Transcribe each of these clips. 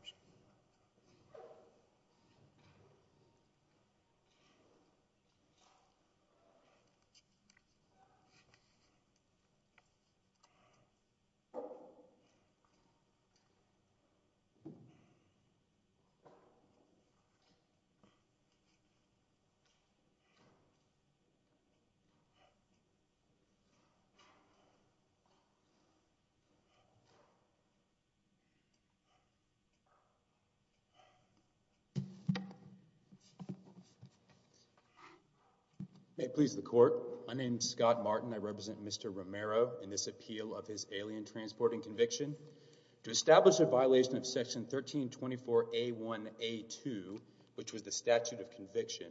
Oops. May it please the court, my name is Scott Martin. I represent Mr. Romero in this appeal of his alien transporting conviction to establish a violation of section 1324 a one a two, which was the statute of conviction.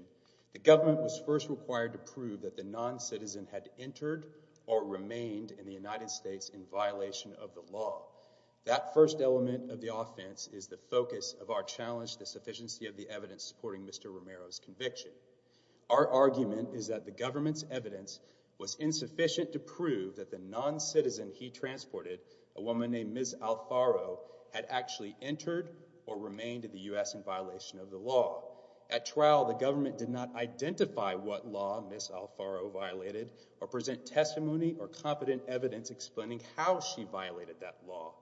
The government was first required to prove that the non citizen had entered or remained in the United States in violation of the law. That first element of the offense is the focus of our challenge, the sufficiency of the evidence supporting Mr. Romero's conviction. Our argument is that the government's evidence was insufficient to prove that the non citizen he transported, a woman named Ms. Alfaro, had actually entered or remained in the U.S. in violation of the law. At trial, the government did not identify what law Ms. Alfaro violated or present testimony or competent evidence explaining how she violated that law.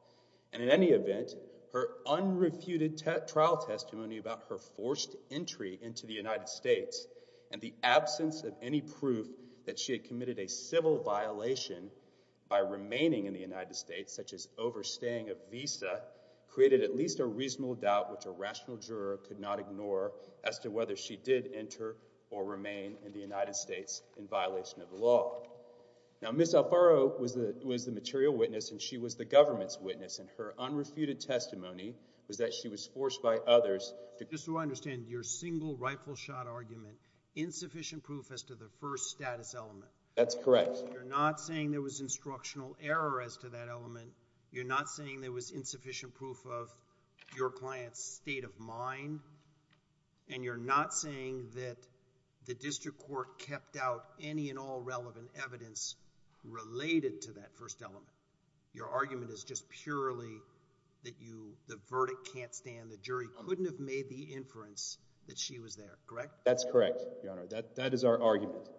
And in any event, her unrefuted trial testimony about her forced entry into the United States and the absence of any proof that she had committed a civil violation by remaining in the United States, such as overstaying a visa, created at least a reasonable doubt which a rational juror could not ignore as to whether she did enter or remain in the United States in violation of the law. Now, Ms. Alfaro was the material witness and she was the government's witness and her unrefuted testimony was that she was forced by others to... Just so I understand, your single rightful shot argument, insufficient proof as to the first status element. That's correct. You're not saying there was instructional error as to that element. You're not saying there was insufficient proof of your client's state of mind. And you're not saying that the district court kept out any and all relevant evidence related to that first element. Your argument is just purely that the verdict can't stand, the jury couldn't have made the inference that she was there, correct? That's correct, Your Honor. That is our argument.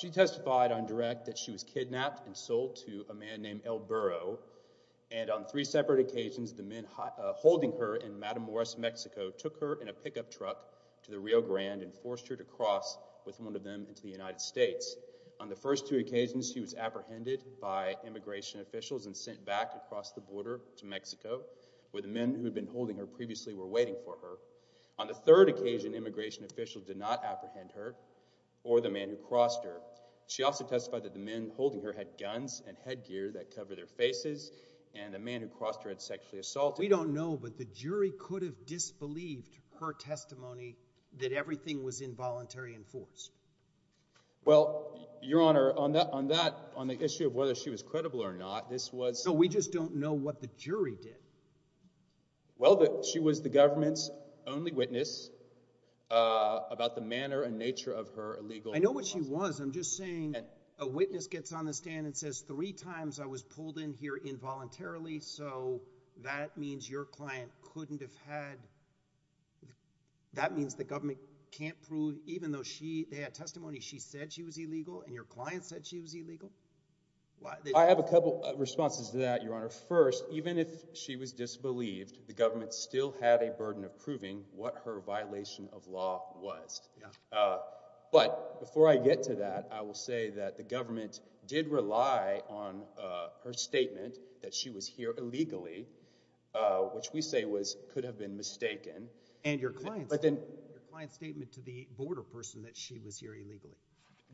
She testified on direct that she was kidnapped and sold to a man named El Burro, and on three occasions, he was apprehended by immigration officials and sent back across the border to Mexico, where the men who had been holding her previously were waiting for her. On the third occasion, immigration officials did not apprehend her or the man who crossed her. She also testified that the men holding her had guns and headgear that covered their faces and the man who crossed her had sexually assaulted her. We don't know, but the jury could have disbelieved her testimony that everything was involuntary and forced. Well, Your Honor, on that, on the issue of whether she was credible or not, this was No, we just don't know what the jury did. Well, she was the government's only witness about the manner and nature of her illegal I know what she was. I'm just saying a witness gets on the stand and says three times I was pulled in here involuntarily. So that means your client couldn't have had. That means the government can't prove even though she had testimony, she said she was illegal and your client said she was illegal. I have a couple of responses to that, Your Honor. First, even if she was disbelieved, the government still had a burden of proving what her violation of law was. But before I get to that, I will say that the government did rely on her statement that she was here illegally, which we say was could have been mistaken. And your client's statement to the border person that she was here illegally.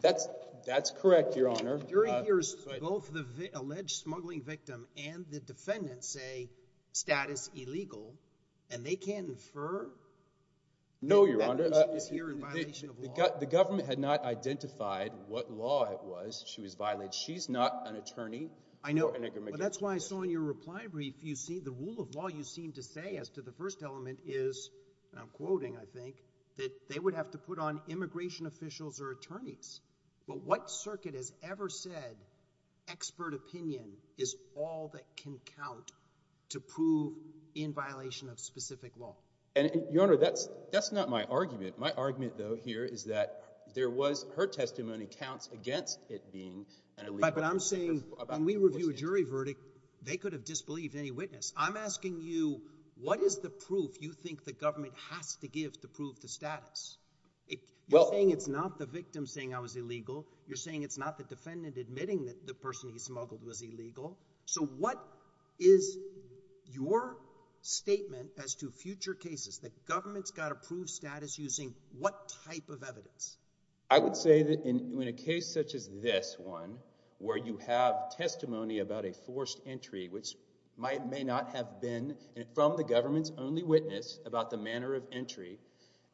That's correct, Your Honor. The jury hears both the alleged smuggling victim and the defendant say status illegal and they can't infer? No, Your Honor. The government had not identified what law it was. She was violated. She's not an attorney. I know. And that's why I saw in your reply brief, you see the rule of law, you seem to say as to the first element is, and I'm quoting, I think that they would have to put on immigration officials or attorneys. But what circuit has ever said expert opinion is all that can count to prove in violation of specific law? And, Your Honor, that's not my argument. My argument, though, here is that there was, her testimony counts against it being an illegal person. But I'm saying when we review a jury verdict, they could have disbelieved any witness. I'm asking you, what is the proof you think the government has to give to prove the status? You're saying it's not the victim saying I was illegal. You're saying it's not the defendant admitting that the person he smuggled was illegal. So what is your statement as to future cases that government's got to prove status using what type of evidence? I would say that in a case such as this one, where you have testimony about a forced entry, which may not have been from the government's only witness about the manner of entry,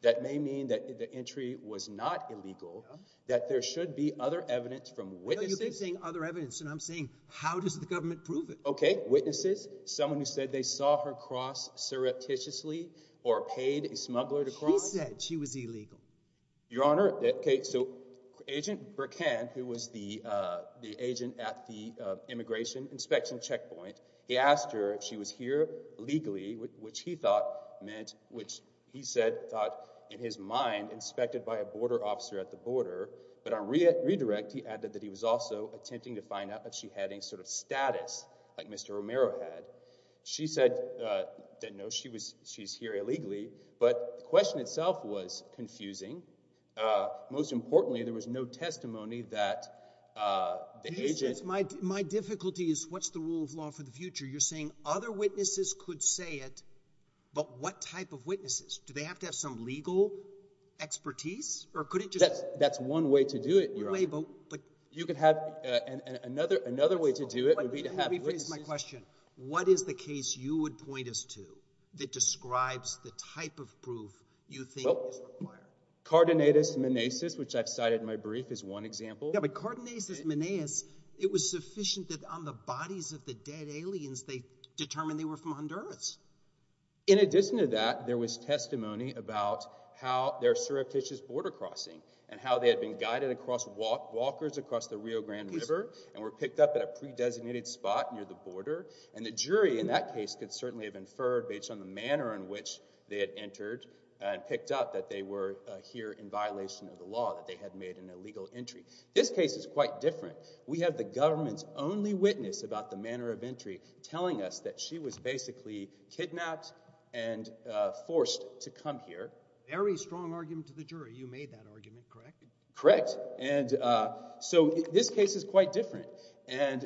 that may mean that the entry was not illegal, that there should be other evidence from witnesses. No, you've been saying other evidence, and I'm saying how does the government prove it? Okay, witnesses, someone who said they saw her cross surreptitiously or paid a smuggler to cross. She said she was illegal. Your Honor, okay, so Agent Burkan, who was the agent at the immigration inspection checkpoint, he asked her if she was here illegally, which he thought, in his mind, inspected by a border officer at the border, but on redirect, he added that he was also attempting to find out if she had any sort of status like Mr. Romero had. She said that no, she's here illegally, but the question itself was confusing. Most importantly, there was no testimony that the agent- My difficulty is what's the rule of law for the future? You're saying other witnesses could say it, but what type of witnesses? Do they have to have some legal expertise, or could it just- That's one way to do it, Your Honor. You could have another way to do it would be to have witnesses- Let me rephrase my question. What is the case you would point us to that describes the type of proof you think is required? Cardonatus minaeus, which I've cited in my brief, is one example. Yeah, but Cardonatus minaeus, it was sufficient that on the bodies of the dead aliens, they determined they were from Honduras. In addition to that, there was testimony about how their surreptitious border crossing and how they had been guided across walkers across the Rio Grande River and were picked up at a pre-designated spot near the border, and the jury in that case could certainly have inferred based on the manner in which they had entered and picked up that they were here in violation of the law, that they had made an illegal entry. This case is quite different. We have the government's only witness about the manner of entry telling us that she was basically kidnapped and forced to come here. Very strong argument to the jury. You made that argument, correct? Correct. And so this case is quite different. And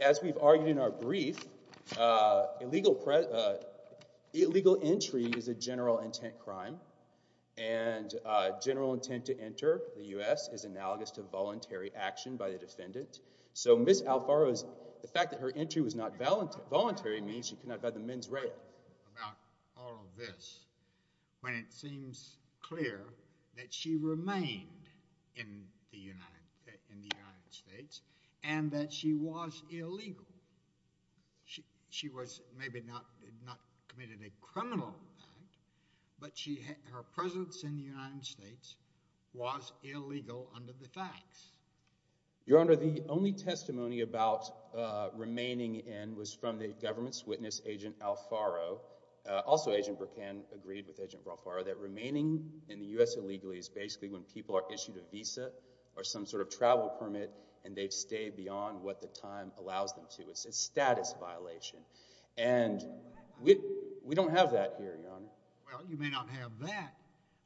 as we've argued in our brief, illegal entry is a general intent crime, and general intent crime is analogous to voluntary action by the defendant. So Ms. Alfaro's, the fact that her entry was not voluntary means she could not have had the men's rail. About all of this, when it seems clear that she remained in the United States and that she was illegal. She was maybe not committed a criminal act, but her presence in the United States was illegal under the facts. Your Honor, the only testimony about remaining in was from the government's witness, Agent Alfaro. Also, Agent Burkan agreed with Agent Alfaro that remaining in the U.S. illegally is basically when people are issued a visa or some sort of travel permit and they've stayed beyond what the time allows them to. It's a status violation. And we don't have that here, Your Honor. Well, you may not have that,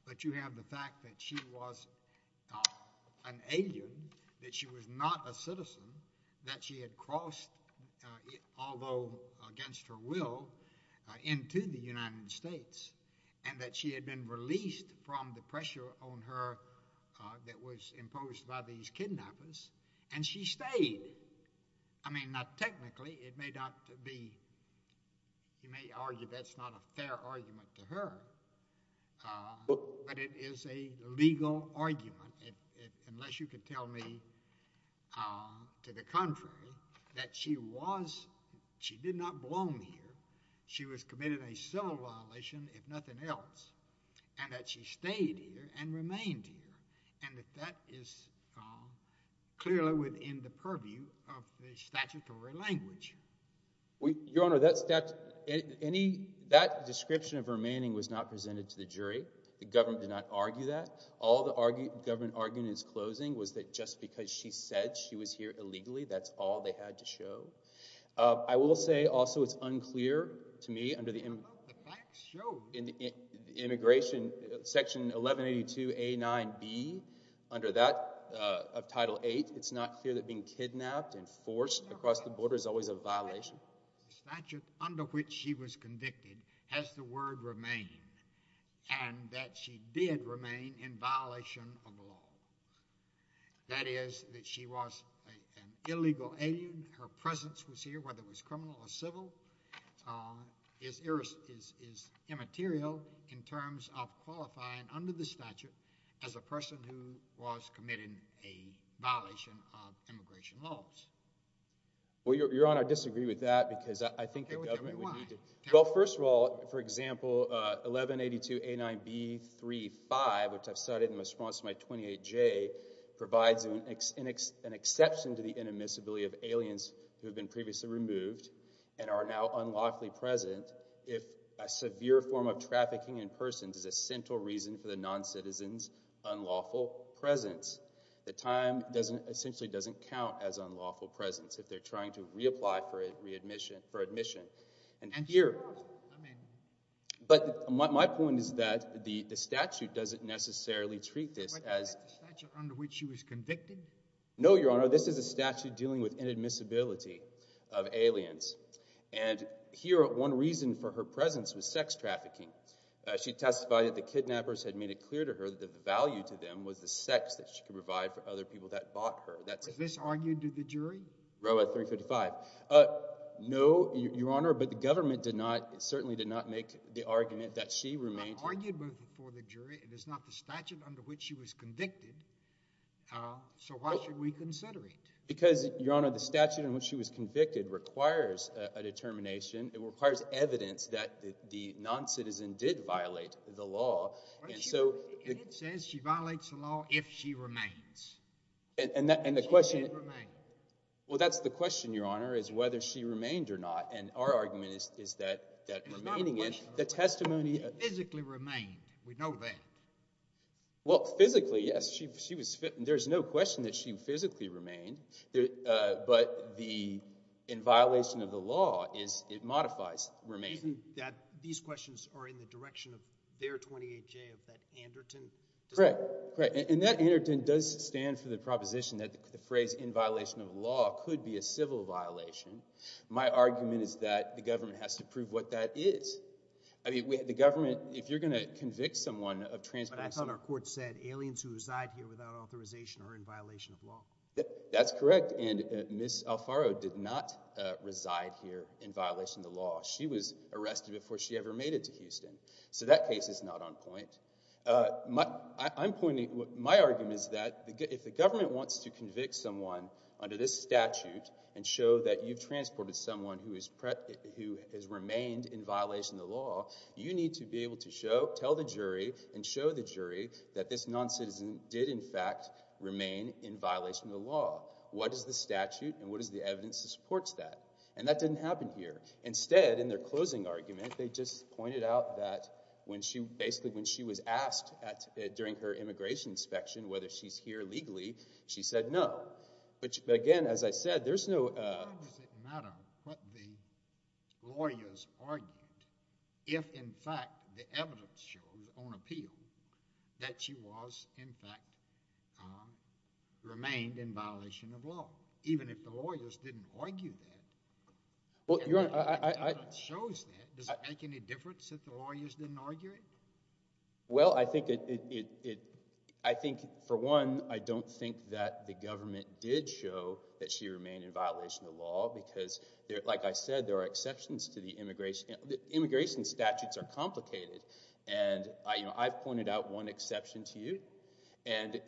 but you have the fact that she was an alien, that she was not a citizen, that she had crossed, although against her will, into the United States, and that she had been released from the pressure on her that was imposed by these kidnappers, and she stayed. I mean, now technically, you may argue that's not a fair argument to her, but it is a legal argument, unless you can tell me to the contrary, that she did not belong here. She was committed a civil violation, if nothing else, and that she stayed here and remained here. And that that is clearly within the purview of the statutory language. Your Honor, that description of remaining was not presented to the jury. The government did not argue that. All the government argument in its closing was that just because she said she was here illegally, that's all they had to show. I will say, also, it's unclear to me, under the immigration section 1182A9B, that she was here illegally. Under that, of Title VIII, it's not clear that being kidnapped and forced across the border is always a violation. Your Honor, the statute under which she was convicted has the word remain, and that she did remain in violation of the law. That is, that she was an illegal alien, her presence was here, whether it was criminal or civil, is immaterial in terms of qualifying, under the statute, as a person who was committing a violation of immigration laws. Well, Your Honor, I disagree with that, because I think the government would need to... Well, first of all, for example, 1182A9B35, which I've cited in response to my 28J, provides an exception to the inadmissibility of aliens who have been previously removed and are now unlawfully present if a severe form of trafficking in persons is a central reason for the noncitizen's unlawful presence. The time essentially doesn't count as unlawful presence if they're trying to reapply for admission. And here... And, of course, I mean... But my point is that the statute doesn't necessarily treat this as... No, Your Honor. This is a statute dealing with inadmissibility of aliens. And here, one reason for her presence was sex trafficking. She testified that the kidnappers had made it clear to her that the value to them was the sex that she could provide for other people that bought her. That's... Was this argued to the jury? Roe 355. No, Your Honor, but the government did not, certainly did not make the argument that she remained... It was argued for the jury. It is not the statute under which she was convicted, so why should we consider it? Because, Your Honor, the statute in which she was convicted requires a determination. It requires evidence that the noncitizen did violate the law. And so... And it says she violates the law if she remains. And the question... If she did remain. Well, that's the question, Your Honor, is whether she remained or not. And our argument is that remaining is... The testimony... Remained. We know that. Well, physically, yes, she was... There's no question that she physically remained. But the... In violation of the law is... It modifies remaining. These questions are in the direction of their 28-J, of that Anderton... Correct. Correct. And that Anderton does stand for the proposition that the phrase, in violation of the law, could be a civil violation. My argument is that the government has to prove what that is. I mean, the government... If you're going to convict someone of transporting someone... But I thought our court said aliens who reside here without authorization are in violation of law. That's correct. And Ms. Alfaro did not reside here in violation of the law. She was arrested before she ever made it to Houston. So that case is not on point. I'm pointing... My argument is that if the government wants to convict someone under this statute and show that you've transported someone who has remained in violation of the law, you need to be able to show... Tell the jury and show the jury that this non-citizen did, in fact, remain in violation of the law. What is the statute? And what is the evidence that supports that? And that didn't happen here. Instead, in their closing argument, they just pointed out that when she... Basically, when she was asked during her immigration inspection whether she's here legally, she said no. Which, again, as I said, there's no... Why does it matter what the lawyers argued if, in fact, the evidence shows on appeal that she was, in fact, remained in violation of law? Even if the lawyers didn't argue that, and the evidence shows that, does it make any difference if the lawyers didn't argue it? Well, I think, for one, I don't think that the government did show that she remained in violation of the law because, like I said, there are exceptions to the immigration... Immigration statutes are complicated, and I've pointed out one exception to you. And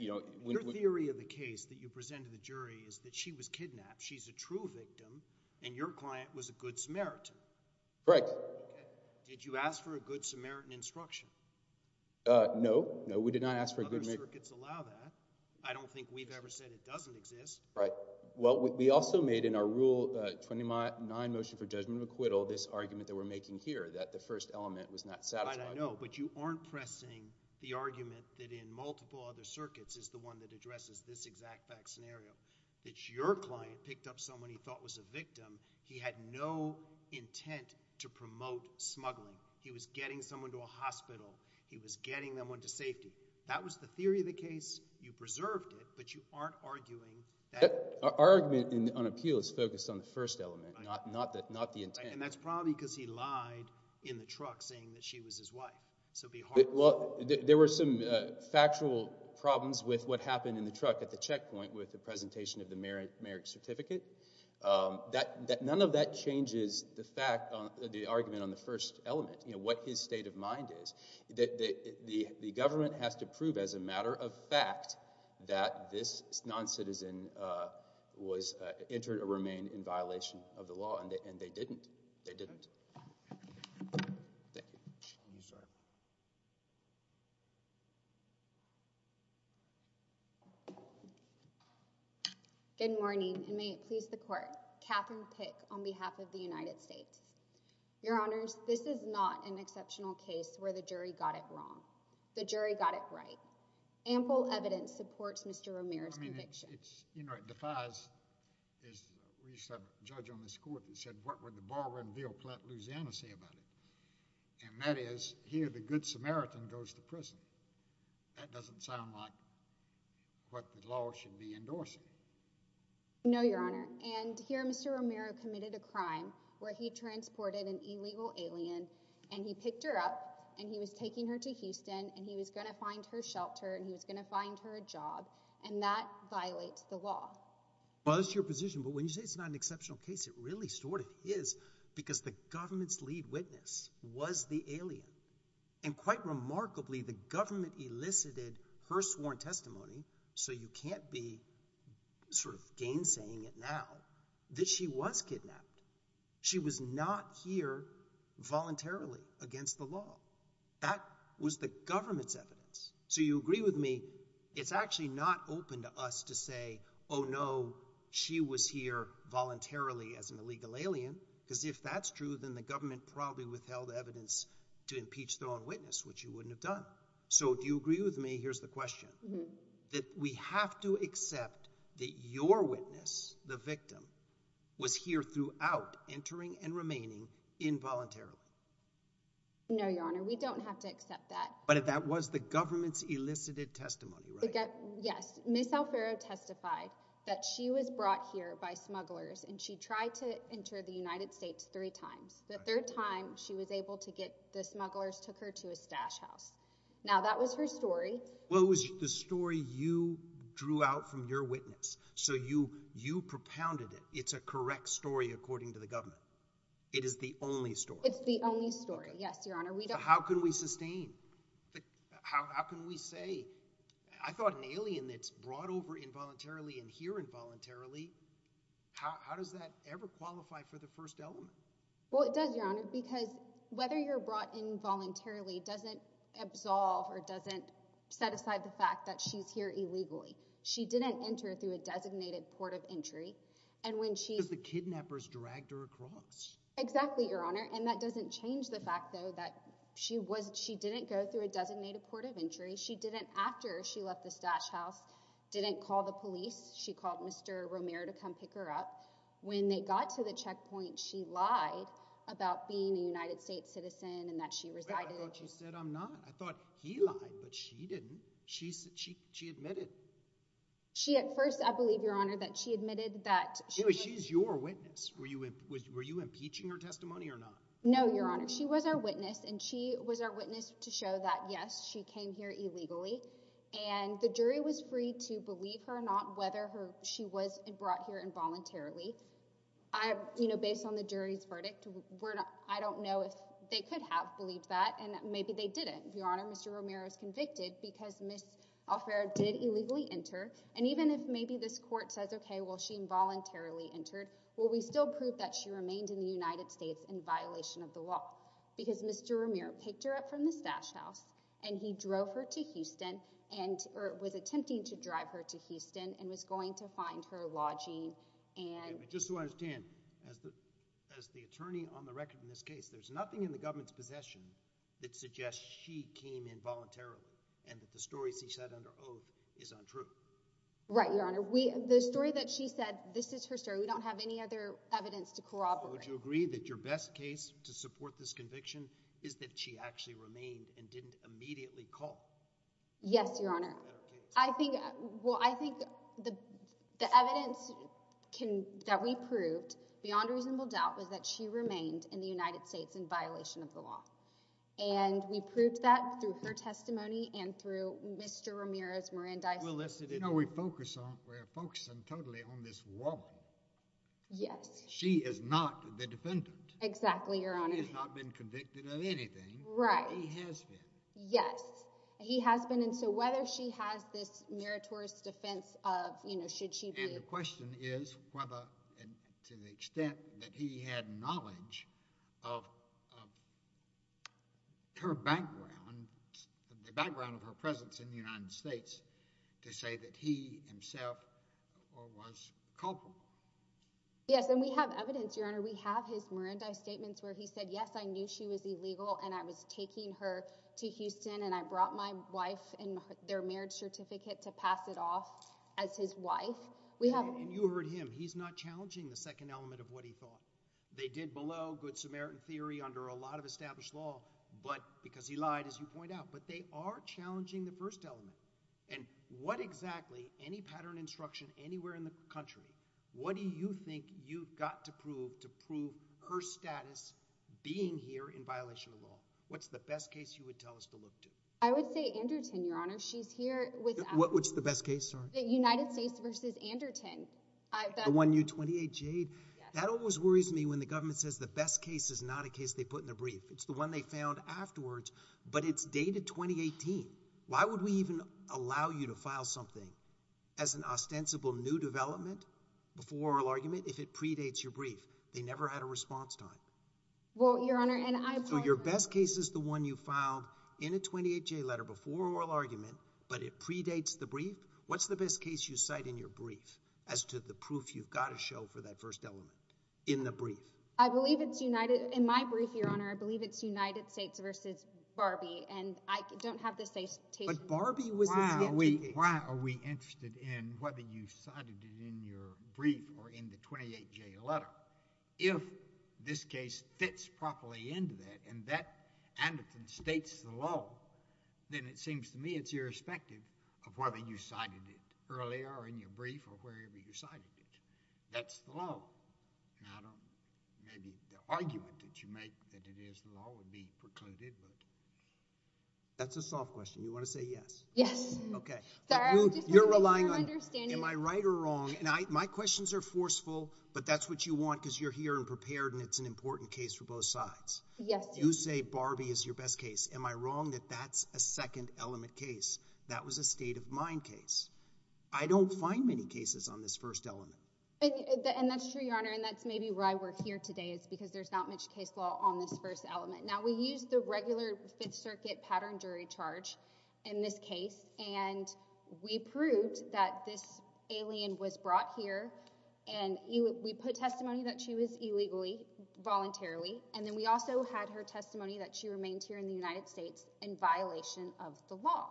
when... Your theory of the case that you presented to the jury is that she was kidnapped. She's a true victim, and your client was a good Samaritan. Correct. Okay. Did you ask for a good Samaritan instruction? No. No, we did not ask for a good... Other circuits allow that. I don't think we've ever said it doesn't exist. Right. Well, we also made, in our Rule 29 Motion for Judgment of Acquittal, this argument that we're making here, that the first element was not satisfied. I know, but you aren't pressing the argument that in multiple other circuits is the one that addresses this exact back scenario, that your client picked up someone he thought was a victim. He had no intent to promote smuggling. He was getting someone to a hospital. He was getting someone to safety. That was the theory of the case. You preserved it, but you aren't arguing that... Our argument on appeal is focused on the first element, not the intent. And that's probably because he lied in the truck, saying that she was his wife. So be heartful. Well, there were some factual problems with what happened in the truck at the checkpoint with the presentation of the merit certificate. None of that changes the argument on the first element, what his state of mind is. The government has to prove as a matter of fact that this non-citizen entered or remained in violation of the law, and they didn't. They didn't. Thank you. I'm sorry. Good morning, and may it please the court. Catherine Pick on behalf of the United States. Your honors, this is not an exceptional case where the jury got it wrong. The jury got it right. Ample evidence supports Mr. Romero's conviction. I mean, it's... You know, it defies... We used to have a judge on this court that said, what would the borrower in Ville Platt, Louisiana, say about it? And that is, here, the good Samaritan goes to prison. That doesn't sound like what the law should be endorsing. No, your honor. And here, Mr. Romero committed a crime where he transported an illegal alien, and he picked her up, and he was taking her to Houston, and he was going to find her shelter, and he was going to find her a job, and that violates the law. Well, that's your position. But when you say it's not an exceptional case, it really sort of is, because the government's key witness was the alien. And quite remarkably, the government elicited her sworn testimony, so you can't be sort of gainsaying it now, that she was kidnapped. She was not here voluntarily against the law. That was the government's evidence. So you agree with me, it's actually not open to us to say, oh no, she was here voluntarily as an illegal alien, because if that's true, then the government probably withheld evidence to impeach their own witness, which you wouldn't have done. So, do you agree with me, here's the question, that we have to accept that your witness, the victim, was here throughout, entering and remaining involuntarily? No, your honor, we don't have to accept that. But that was the government's elicited testimony, right? Yes. Ms. Alfaro testified that she was brought here by smugglers, and she tried to enter the United States three times. The third time, she was able to get, the smugglers took her to a stash house. Now, that was her story. Well, it was the story you drew out from your witness. So you propounded it. It's a correct story, according to the government. It is the only story. It's the only story, yes, your honor. How can we sustain? How can we say? I thought an alien that's brought over involuntarily and here involuntarily, how does that ever qualify for the first element? Well, it does, your honor, because whether you're brought in voluntarily doesn't absolve or doesn't set aside the fact that she's here illegally. She didn't enter through a designated port of entry. And when she... Because the kidnappers dragged her across. Exactly, your honor. And that doesn't change the fact, though, that she didn't go through a designated port of entry. She didn't, after she left the stash house, didn't call the police. She called Mr. Romero to come pick her up. When they got to the checkpoint, she lied about being a United States citizen and that she resided in... Well, I thought you said I'm not. I thought he lied, but she didn't. She admitted. She, at first, I believe, your honor, that she admitted that... She's your witness. Were you impeaching her testimony or not? No, your honor. She was our witness, and she was our witness to show that, yes, she came here illegally. And the jury was free to believe her or not, whether she was brought here involuntarily. You know, based on the jury's verdict, I don't know if they could have believed that, and maybe they didn't, your honor. Mr. Romero is convicted because Ms. Alfaro did illegally enter. And even if maybe this court says, okay, well, she involuntarily entered, will we still prove that she remained in the United States in violation of the law? Because Mr. Romero picked her up from the stash house, and he drove her to Houston, or was attempting to drive her to Houston, and was going to find her lodging and... Just so I understand, as the attorney on the record in this case, there's nothing in the government's possession that suggests she came involuntarily and that the stories he said under oath is untrue. Right, your honor. The story that she said, this is her story. We don't have any other evidence to corroborate. Would you agree that your best case to support this conviction is that she actually remained and didn't immediately call? Yes, your honor. I think, well, I think the evidence that we proved, beyond reasonable doubt, was that she remained in the United States in violation of the law. And we proved that through her testimony and through Mr. Romero's, Miranda's... You know, we focus on, we're focusing totally on this woman. Yes. She is not the defendant. Exactly, your honor. He has not been convicted of anything. Right. He has been. Yes, he has been. And so whether she has this meritorious defense of, you know, should she be... And the question is whether, to the extent that he had knowledge of her background, the background of her presence in the United States, to say that he himself was culpable. Yes, and we have evidence, your honor. We have his Miranda statements where he said, yes, I knew she was illegal and I was taking her to Houston and I brought my wife and their marriage certificate to pass it off as his wife. And you heard him. He's not challenging the second element of what he thought. They did below good Samaritan theory under a lot of established law, but because he lied, as you point out, but they are challenging the first element. And what exactly, any pattern instruction anywhere in the country, what do you think you've got to prove to prove her status being here in violation of law? What's the best case you would tell us to look to? I would say Anderton, your honor. She's here with... What's the best case, sorry? The United States versus Anderton. The one, U-28 Jade? That always worries me when the government says the best case is not a case they put in their brief. It's the one they found afterwards. But it's dated 2018. Why would we even allow you to file something as an ostensible new development before oral argument if it predates your brief? They never had a response time. Well, your honor, and I... So your best case is the one you filed in a 28-J letter before oral argument, but it predates the brief? What's the best case you cite in your brief as to the proof you've got to show for that first element in the brief? I believe it's United... In my brief, your honor, I believe it's United States versus Barbie, and I don't have the citation... But Barbie was... Why are we interested in whether you cited it in your brief or in the 28-J letter? If this case fits properly into that and that Anderton states the law, then it seems to me it's irrespective of whether you cited it earlier or in your brief or wherever you cited it. That's the law. And I don't... Maybe the argument that you make that it is the law would be precluded, but... That's a soft question. You want to say yes? Yes. Okay. You're relying on... Am I right or wrong? And my questions are forceful, but that's what you want because you're here and prepared and it's an important case for both sides. Yes. You say Barbie is your best case. Am I wrong that that's a second-element case? That was a state-of-mind case. I don't find many cases on this first element. And that's true, Your Honor, and that's maybe why we're here today is because there's not much case law on this first element. Now, we use the regular Fifth Circuit pattern jury charge in this case and we proved that this alien was brought here and we put testimony that she was illegally, voluntarily, and then we also had her testimony that she remained here in the United States in violation of the law.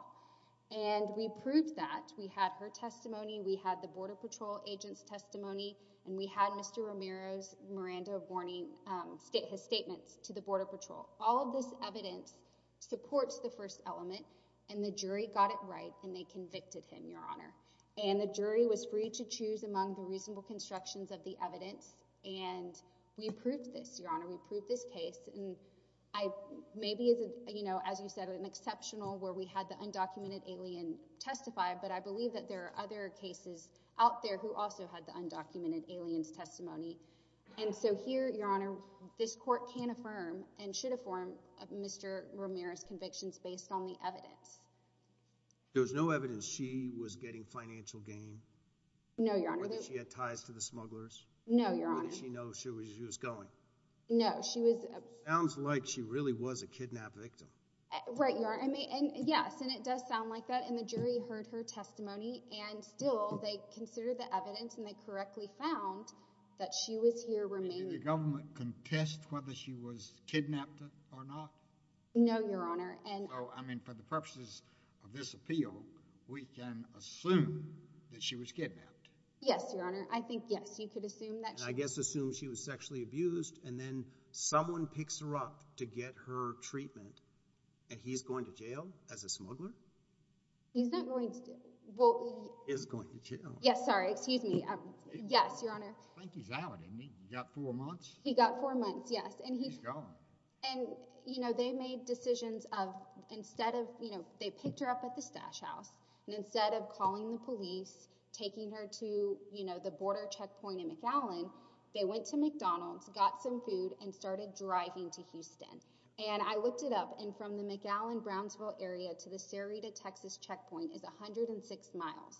And we proved that. We had her testimony. We had the Border Patrol agent's testimony and we had Mr. Romero's, Miranda Borney's statements to the Border Patrol. All of this evidence supports the first element and the jury got it right and they convicted him, Your Honor. And the jury was free to choose among the reasonable constructions of the evidence and we proved this, Your Honor. We proved this case. And maybe, as you said, an exceptional where we had the undocumented alien testify, but I believe that there are other cases out there who also had the undocumented alien's testimony. And so here, Your Honor, this court can affirm and should affirm Mr. Romero's convictions based on the evidence. There was no evidence she was getting financial gain? No, Your Honor. Or that she had ties to the smugglers? No, Your Honor. Or did she know she was going? No, she was... Sounds like she really was a kidnap victim. Right, Your Honor. And yes, and it does sound like that and the jury heard her testimony and still they considered the evidence and they correctly found that she was here remaining. Did the government contest whether she was kidnapped or not? No, Your Honor, and... So, I mean, for the purposes of this appeal, we can assume that she was kidnapped? Yes, Your Honor. I think, yes, you could assume that she... And I guess assume she was sexually abused and then someone picks her up to get her treatment and he's going to jail as a smuggler? He's not going to jail. Well... He's going to jail. Yes, sorry, excuse me. Yes, Your Honor. I think he's out. He got four months? He got four months, yes. And he's gone. And, you know, they made decisions of instead of, you know, they picked her up at the stash house and instead of calling the police, taking her to, you know, the border checkpoint in McAllen, they went to McDonald's, got some food, and started driving to Houston. And I looked it up and from the McAllen-Brownsville area to the Sarita, Texas checkpoint is 106 miles.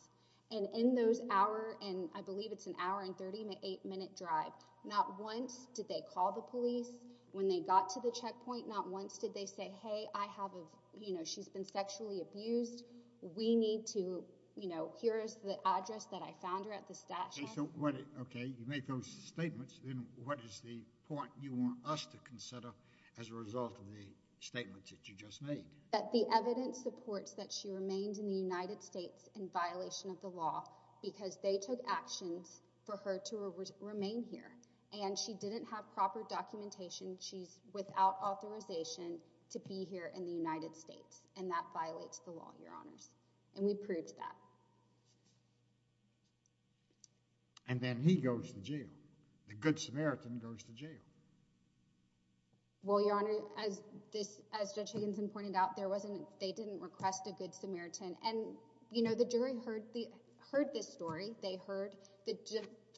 And in those hour and... I believe it's an hour and 38 minute drive. Not once did they call the police when they got to the checkpoint. Not once did they say, hey, I have a... You know, she's been sexually abused. We need to, you know, here is the address that I found her at the stash house. Okay, you make those statements. Then what is the point you want us to consider as a result of the statements that you just made? That the evidence supports that she remained in the United States in violation of the law because they took actions for her to remain here and she didn't have proper documentation. She's without authorization to be here in the United States and that violates the law, Your Honors. And we proved that. And then he goes to jail. The good Samaritan goes to jail. Well, Your Honor, as Judge Higginson pointed out, they didn't request a good Samaritan. And, you know, the jury heard this story. They heard... The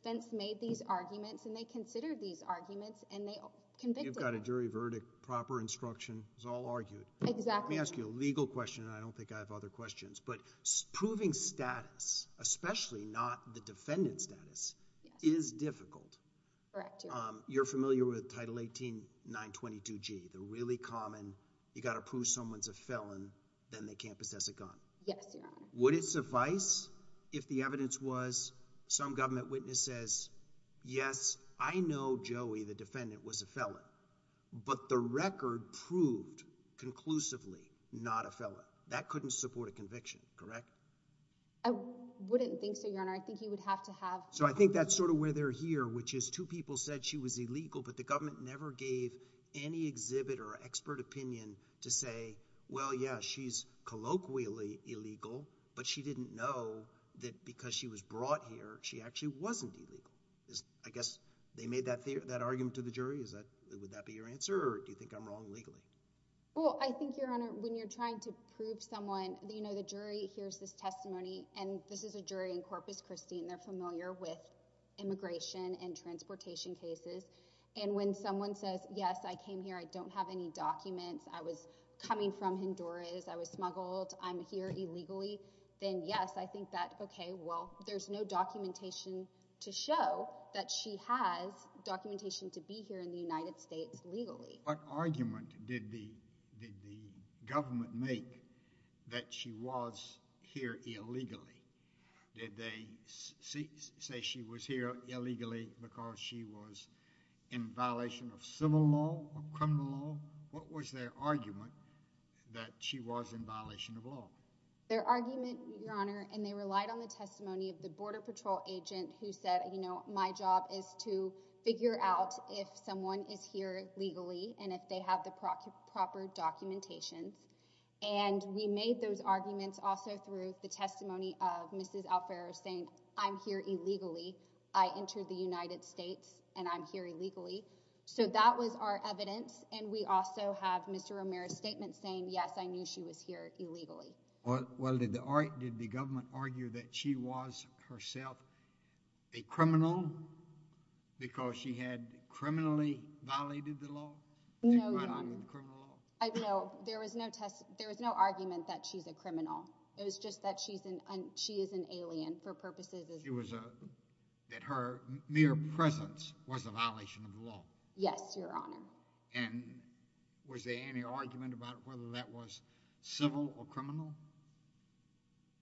defense made these arguments and they considered these arguments and they convicted... You've got a jury verdict, proper instruction. It was all argued. Exactly. Let me ask you a legal question and I don't think I have other questions. But proving status, especially not the defendant's status, is difficult. Correct, Your Honor. You're familiar with Title 18, 922G. The really common you've got to prove someone's a felon then they can't possess a gun. Yes, Your Honor. Would it suffice if the evidence was some government witness says yes, I know Joey, the defendant, was a felon but the record proved conclusively not a felon. That couldn't support a conviction. Correct? I wouldn't think so, Your Honor. I think you would have to have... So I think that's sort of where they're here which is two people said she was illegal but the government never gave any exhibit or expert opinion to say well, yeah, she's colloquially illegal but she didn't know that because she was brought here she actually wasn't illegal. I guess they made that argument to the jury. Would that be your answer or do you think I'm wrong legally? Well, I think, Your Honor, when you're trying to prove someone you know, the jury hears this testimony and this is a jury in Corpus Christi and they're familiar with immigration and transportation cases and when someone says yes, I came here, I don't have any documents I was coming from Honduras I was smuggled I'm here illegally then yes, I think that okay, well, there's no documentation to show that she has documentation to be here in the United States legally. What argument did the government make that she was here illegally? Did they say she was here illegally because she was in violation of civil law or criminal law? What was their argument that she was in violation of law? Their argument, Your Honor, and they relied on the testimony of the Border Patrol agent who said, you know, my job is to figure out if someone is here legally and if they have the proper documentation and we made those arguments also through the testimony of Mrs. Alfaro saying I'm here illegally I entered the United States and I'm here illegally so that was our evidence and we also have Mr. Romero's statement saying yes, I knew she was here illegally. Well, did the government argue that she was herself a criminal because she had criminally violated the law? No, Your Honor. No, there was no test there was no argument that she's a criminal it was just that she is an alien for purposes of that her mere presence was a violation of the law. Yes, Your Honor. And was there any argument about whether that was civil or criminal?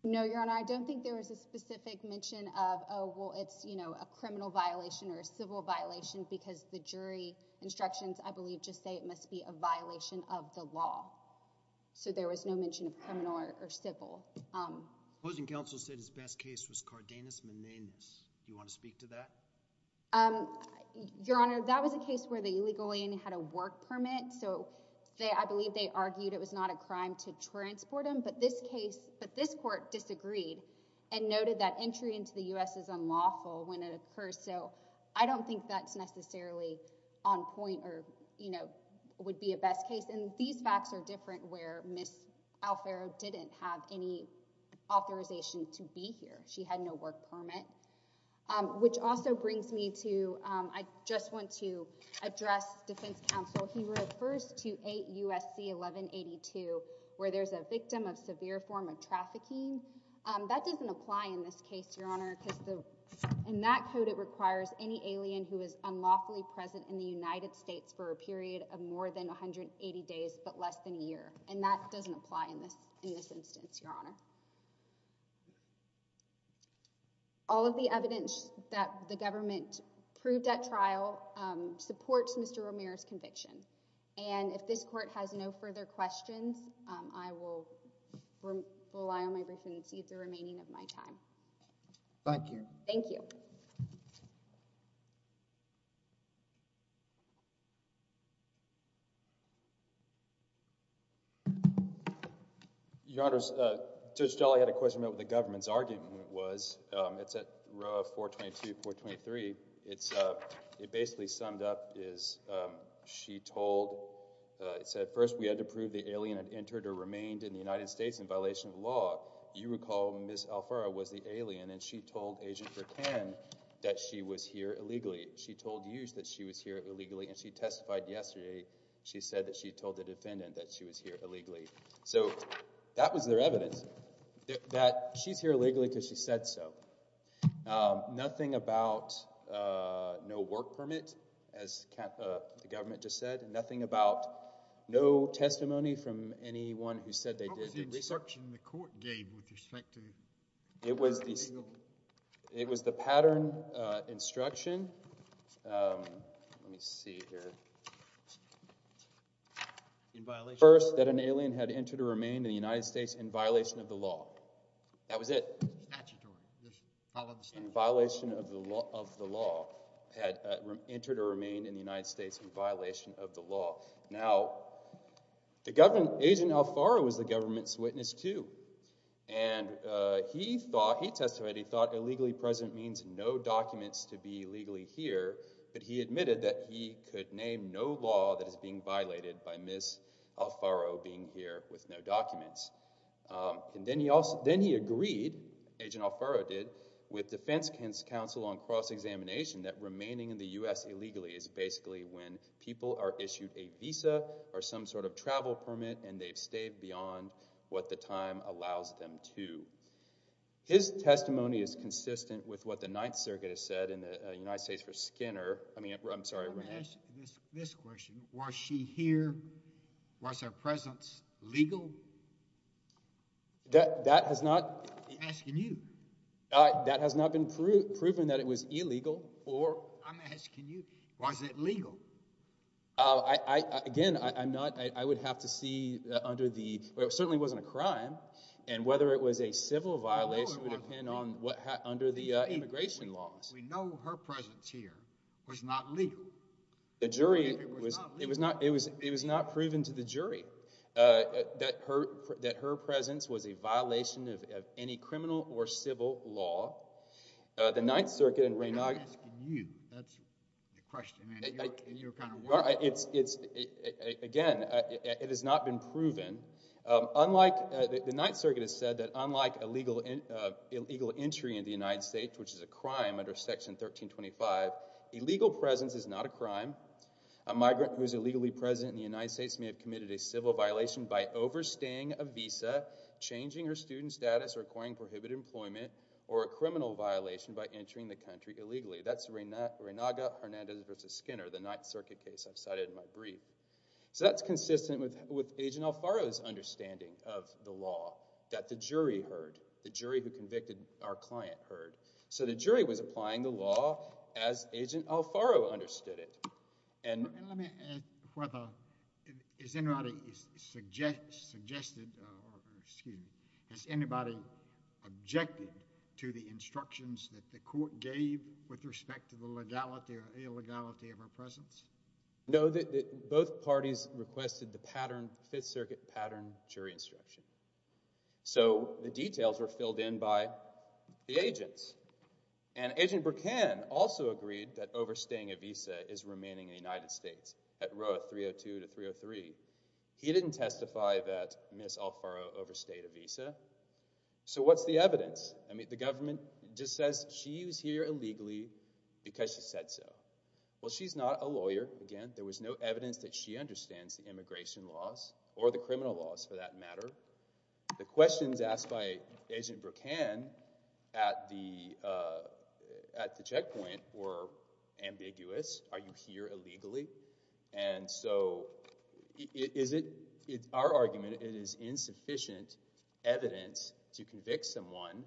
No, Your Honor. I don't think there was a specific mention of oh, well, it's, you know, a criminal violation or a civil violation because the jury instructions I believe just say it must be a violation of the law. So there was no mention of criminal or civil. Supposing counsel said his best case was Cardenas misdemeanors do you want to speak to that? Your Honor, that was a case where the illegal alien had a work permit so I believe they argued it was not a crime to transport him but this case but this court disagreed and noted that entry into the U.S. is unlawful when it occurs so I don't think that's necessarily on point or, you know, would be a best case and these facts are different where Ms. Alfaro didn't have any authorization to be here. She had no work permit which also brings me to I just want to address defense counsel he refers to 8 U.S.C. 1182 where there's a victim of severe form of trafficking that doesn't apply in this case, Your Honor because in that code it requires any alien who is unlawfully present in the United States for a period of more than 180 days but less than a year and that doesn't apply in this instance, Your Honor. All of the evidence that the government proved at trial supports Mr. Romero's conviction and if this court has no further questions I will rely on my briefings to use the remaining of my time. Thank you. Thank you. Your Honor, Judge Jolly had a question about the government's argument it was it's at row 422-423 it's it basically summed up is she told it said first we had to prove the alien had entered or remained in the United States in violation of the law you recall Ms. Alfaro was the alien and she told Agent Vercan that she was here illegally she told Hughes that she was here illegally and she testified yesterday she said that she told the defendant that she was here illegally so that was their evidence that she's here illegally because she said so um nothing about uh no work permit as uh the government just said nothing about no testimony from anyone who said they did How was the instruction the court gave with respect to it was the it was the pattern uh instruction um let me see here in violation first that an alien had entered or remained in the United States in violation of the law that was it statutory I understand in violation of the law had entered or remained in the United States in violation of the law now the government Agent Alfaro was the government's witness too and uh he thought he testified he thought illegally present means no documents to be legally here but he admitted that he could name no law that is being violated by Ms. Alfaro being here with no documents um and then he also then he agreed Agent Alfaro did with defense counsel on cross-examination that remaining in the U.S. illegally is basically when people are issued a visa or some sort of travel permit and they've stayed beyond what the time allows them to his testimony is consistent with what the Ninth Circuit has said in the United States for Skinner I mean I'm sorry I'm asking this question was she here was her presence legal that that has not I'm asking you uh that has not been proven that it was illegal or I'm asking you was it legal uh I I again I'm not I would have to see under the it certainly wasn't a crime and whether it was a civil violation would depend on what had under the immigration laws we know her presence here was not legal the jury it was not it was it was not proven to the jury uh that her that her presence was a violation of any criminal or civil law uh the Ninth Circuit I'm asking you that's the question I mean you're kind of well it's it's again it has not been proven um unlike the Ninth Circuit has said that unlike illegal uh illegal entry in the United States which is a crime under section 1325 illegal presence is not a crime a migrant who is part of being you know I do with a criminal case which was a criminal case it was very well understood so it was a criminal case which was very funny something that represented a number of other and plays a role in the mystery of immigration in the United States. He didn't testify that she overstayed visa. What's the evidence? The government says she was here illegally because she said so. She's not a lawyer. There was no evidence that she understands the immigration laws. The questions asked were ambiguous. Are you here illegally? Is it our argument it is insufficient evidence to convict someone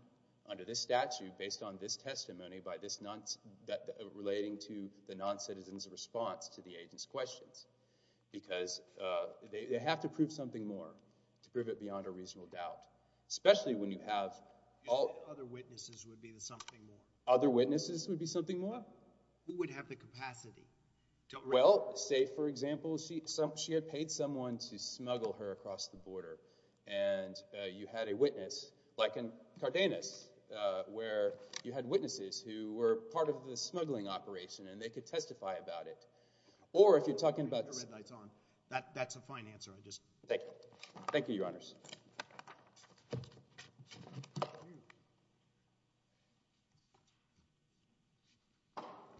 based on this testimony relating to the non-citizen to the agent's questions. They have to prove something more to prove it beyond a reasonable doubt. Other witnesses would be something more? Who would have the capacity? Say she had paid someone to smuggle her across the border and you had a witness like in Cardenas where you had witnesses who were part of the smuggling operation and they could testify about it. Thank you, your honors.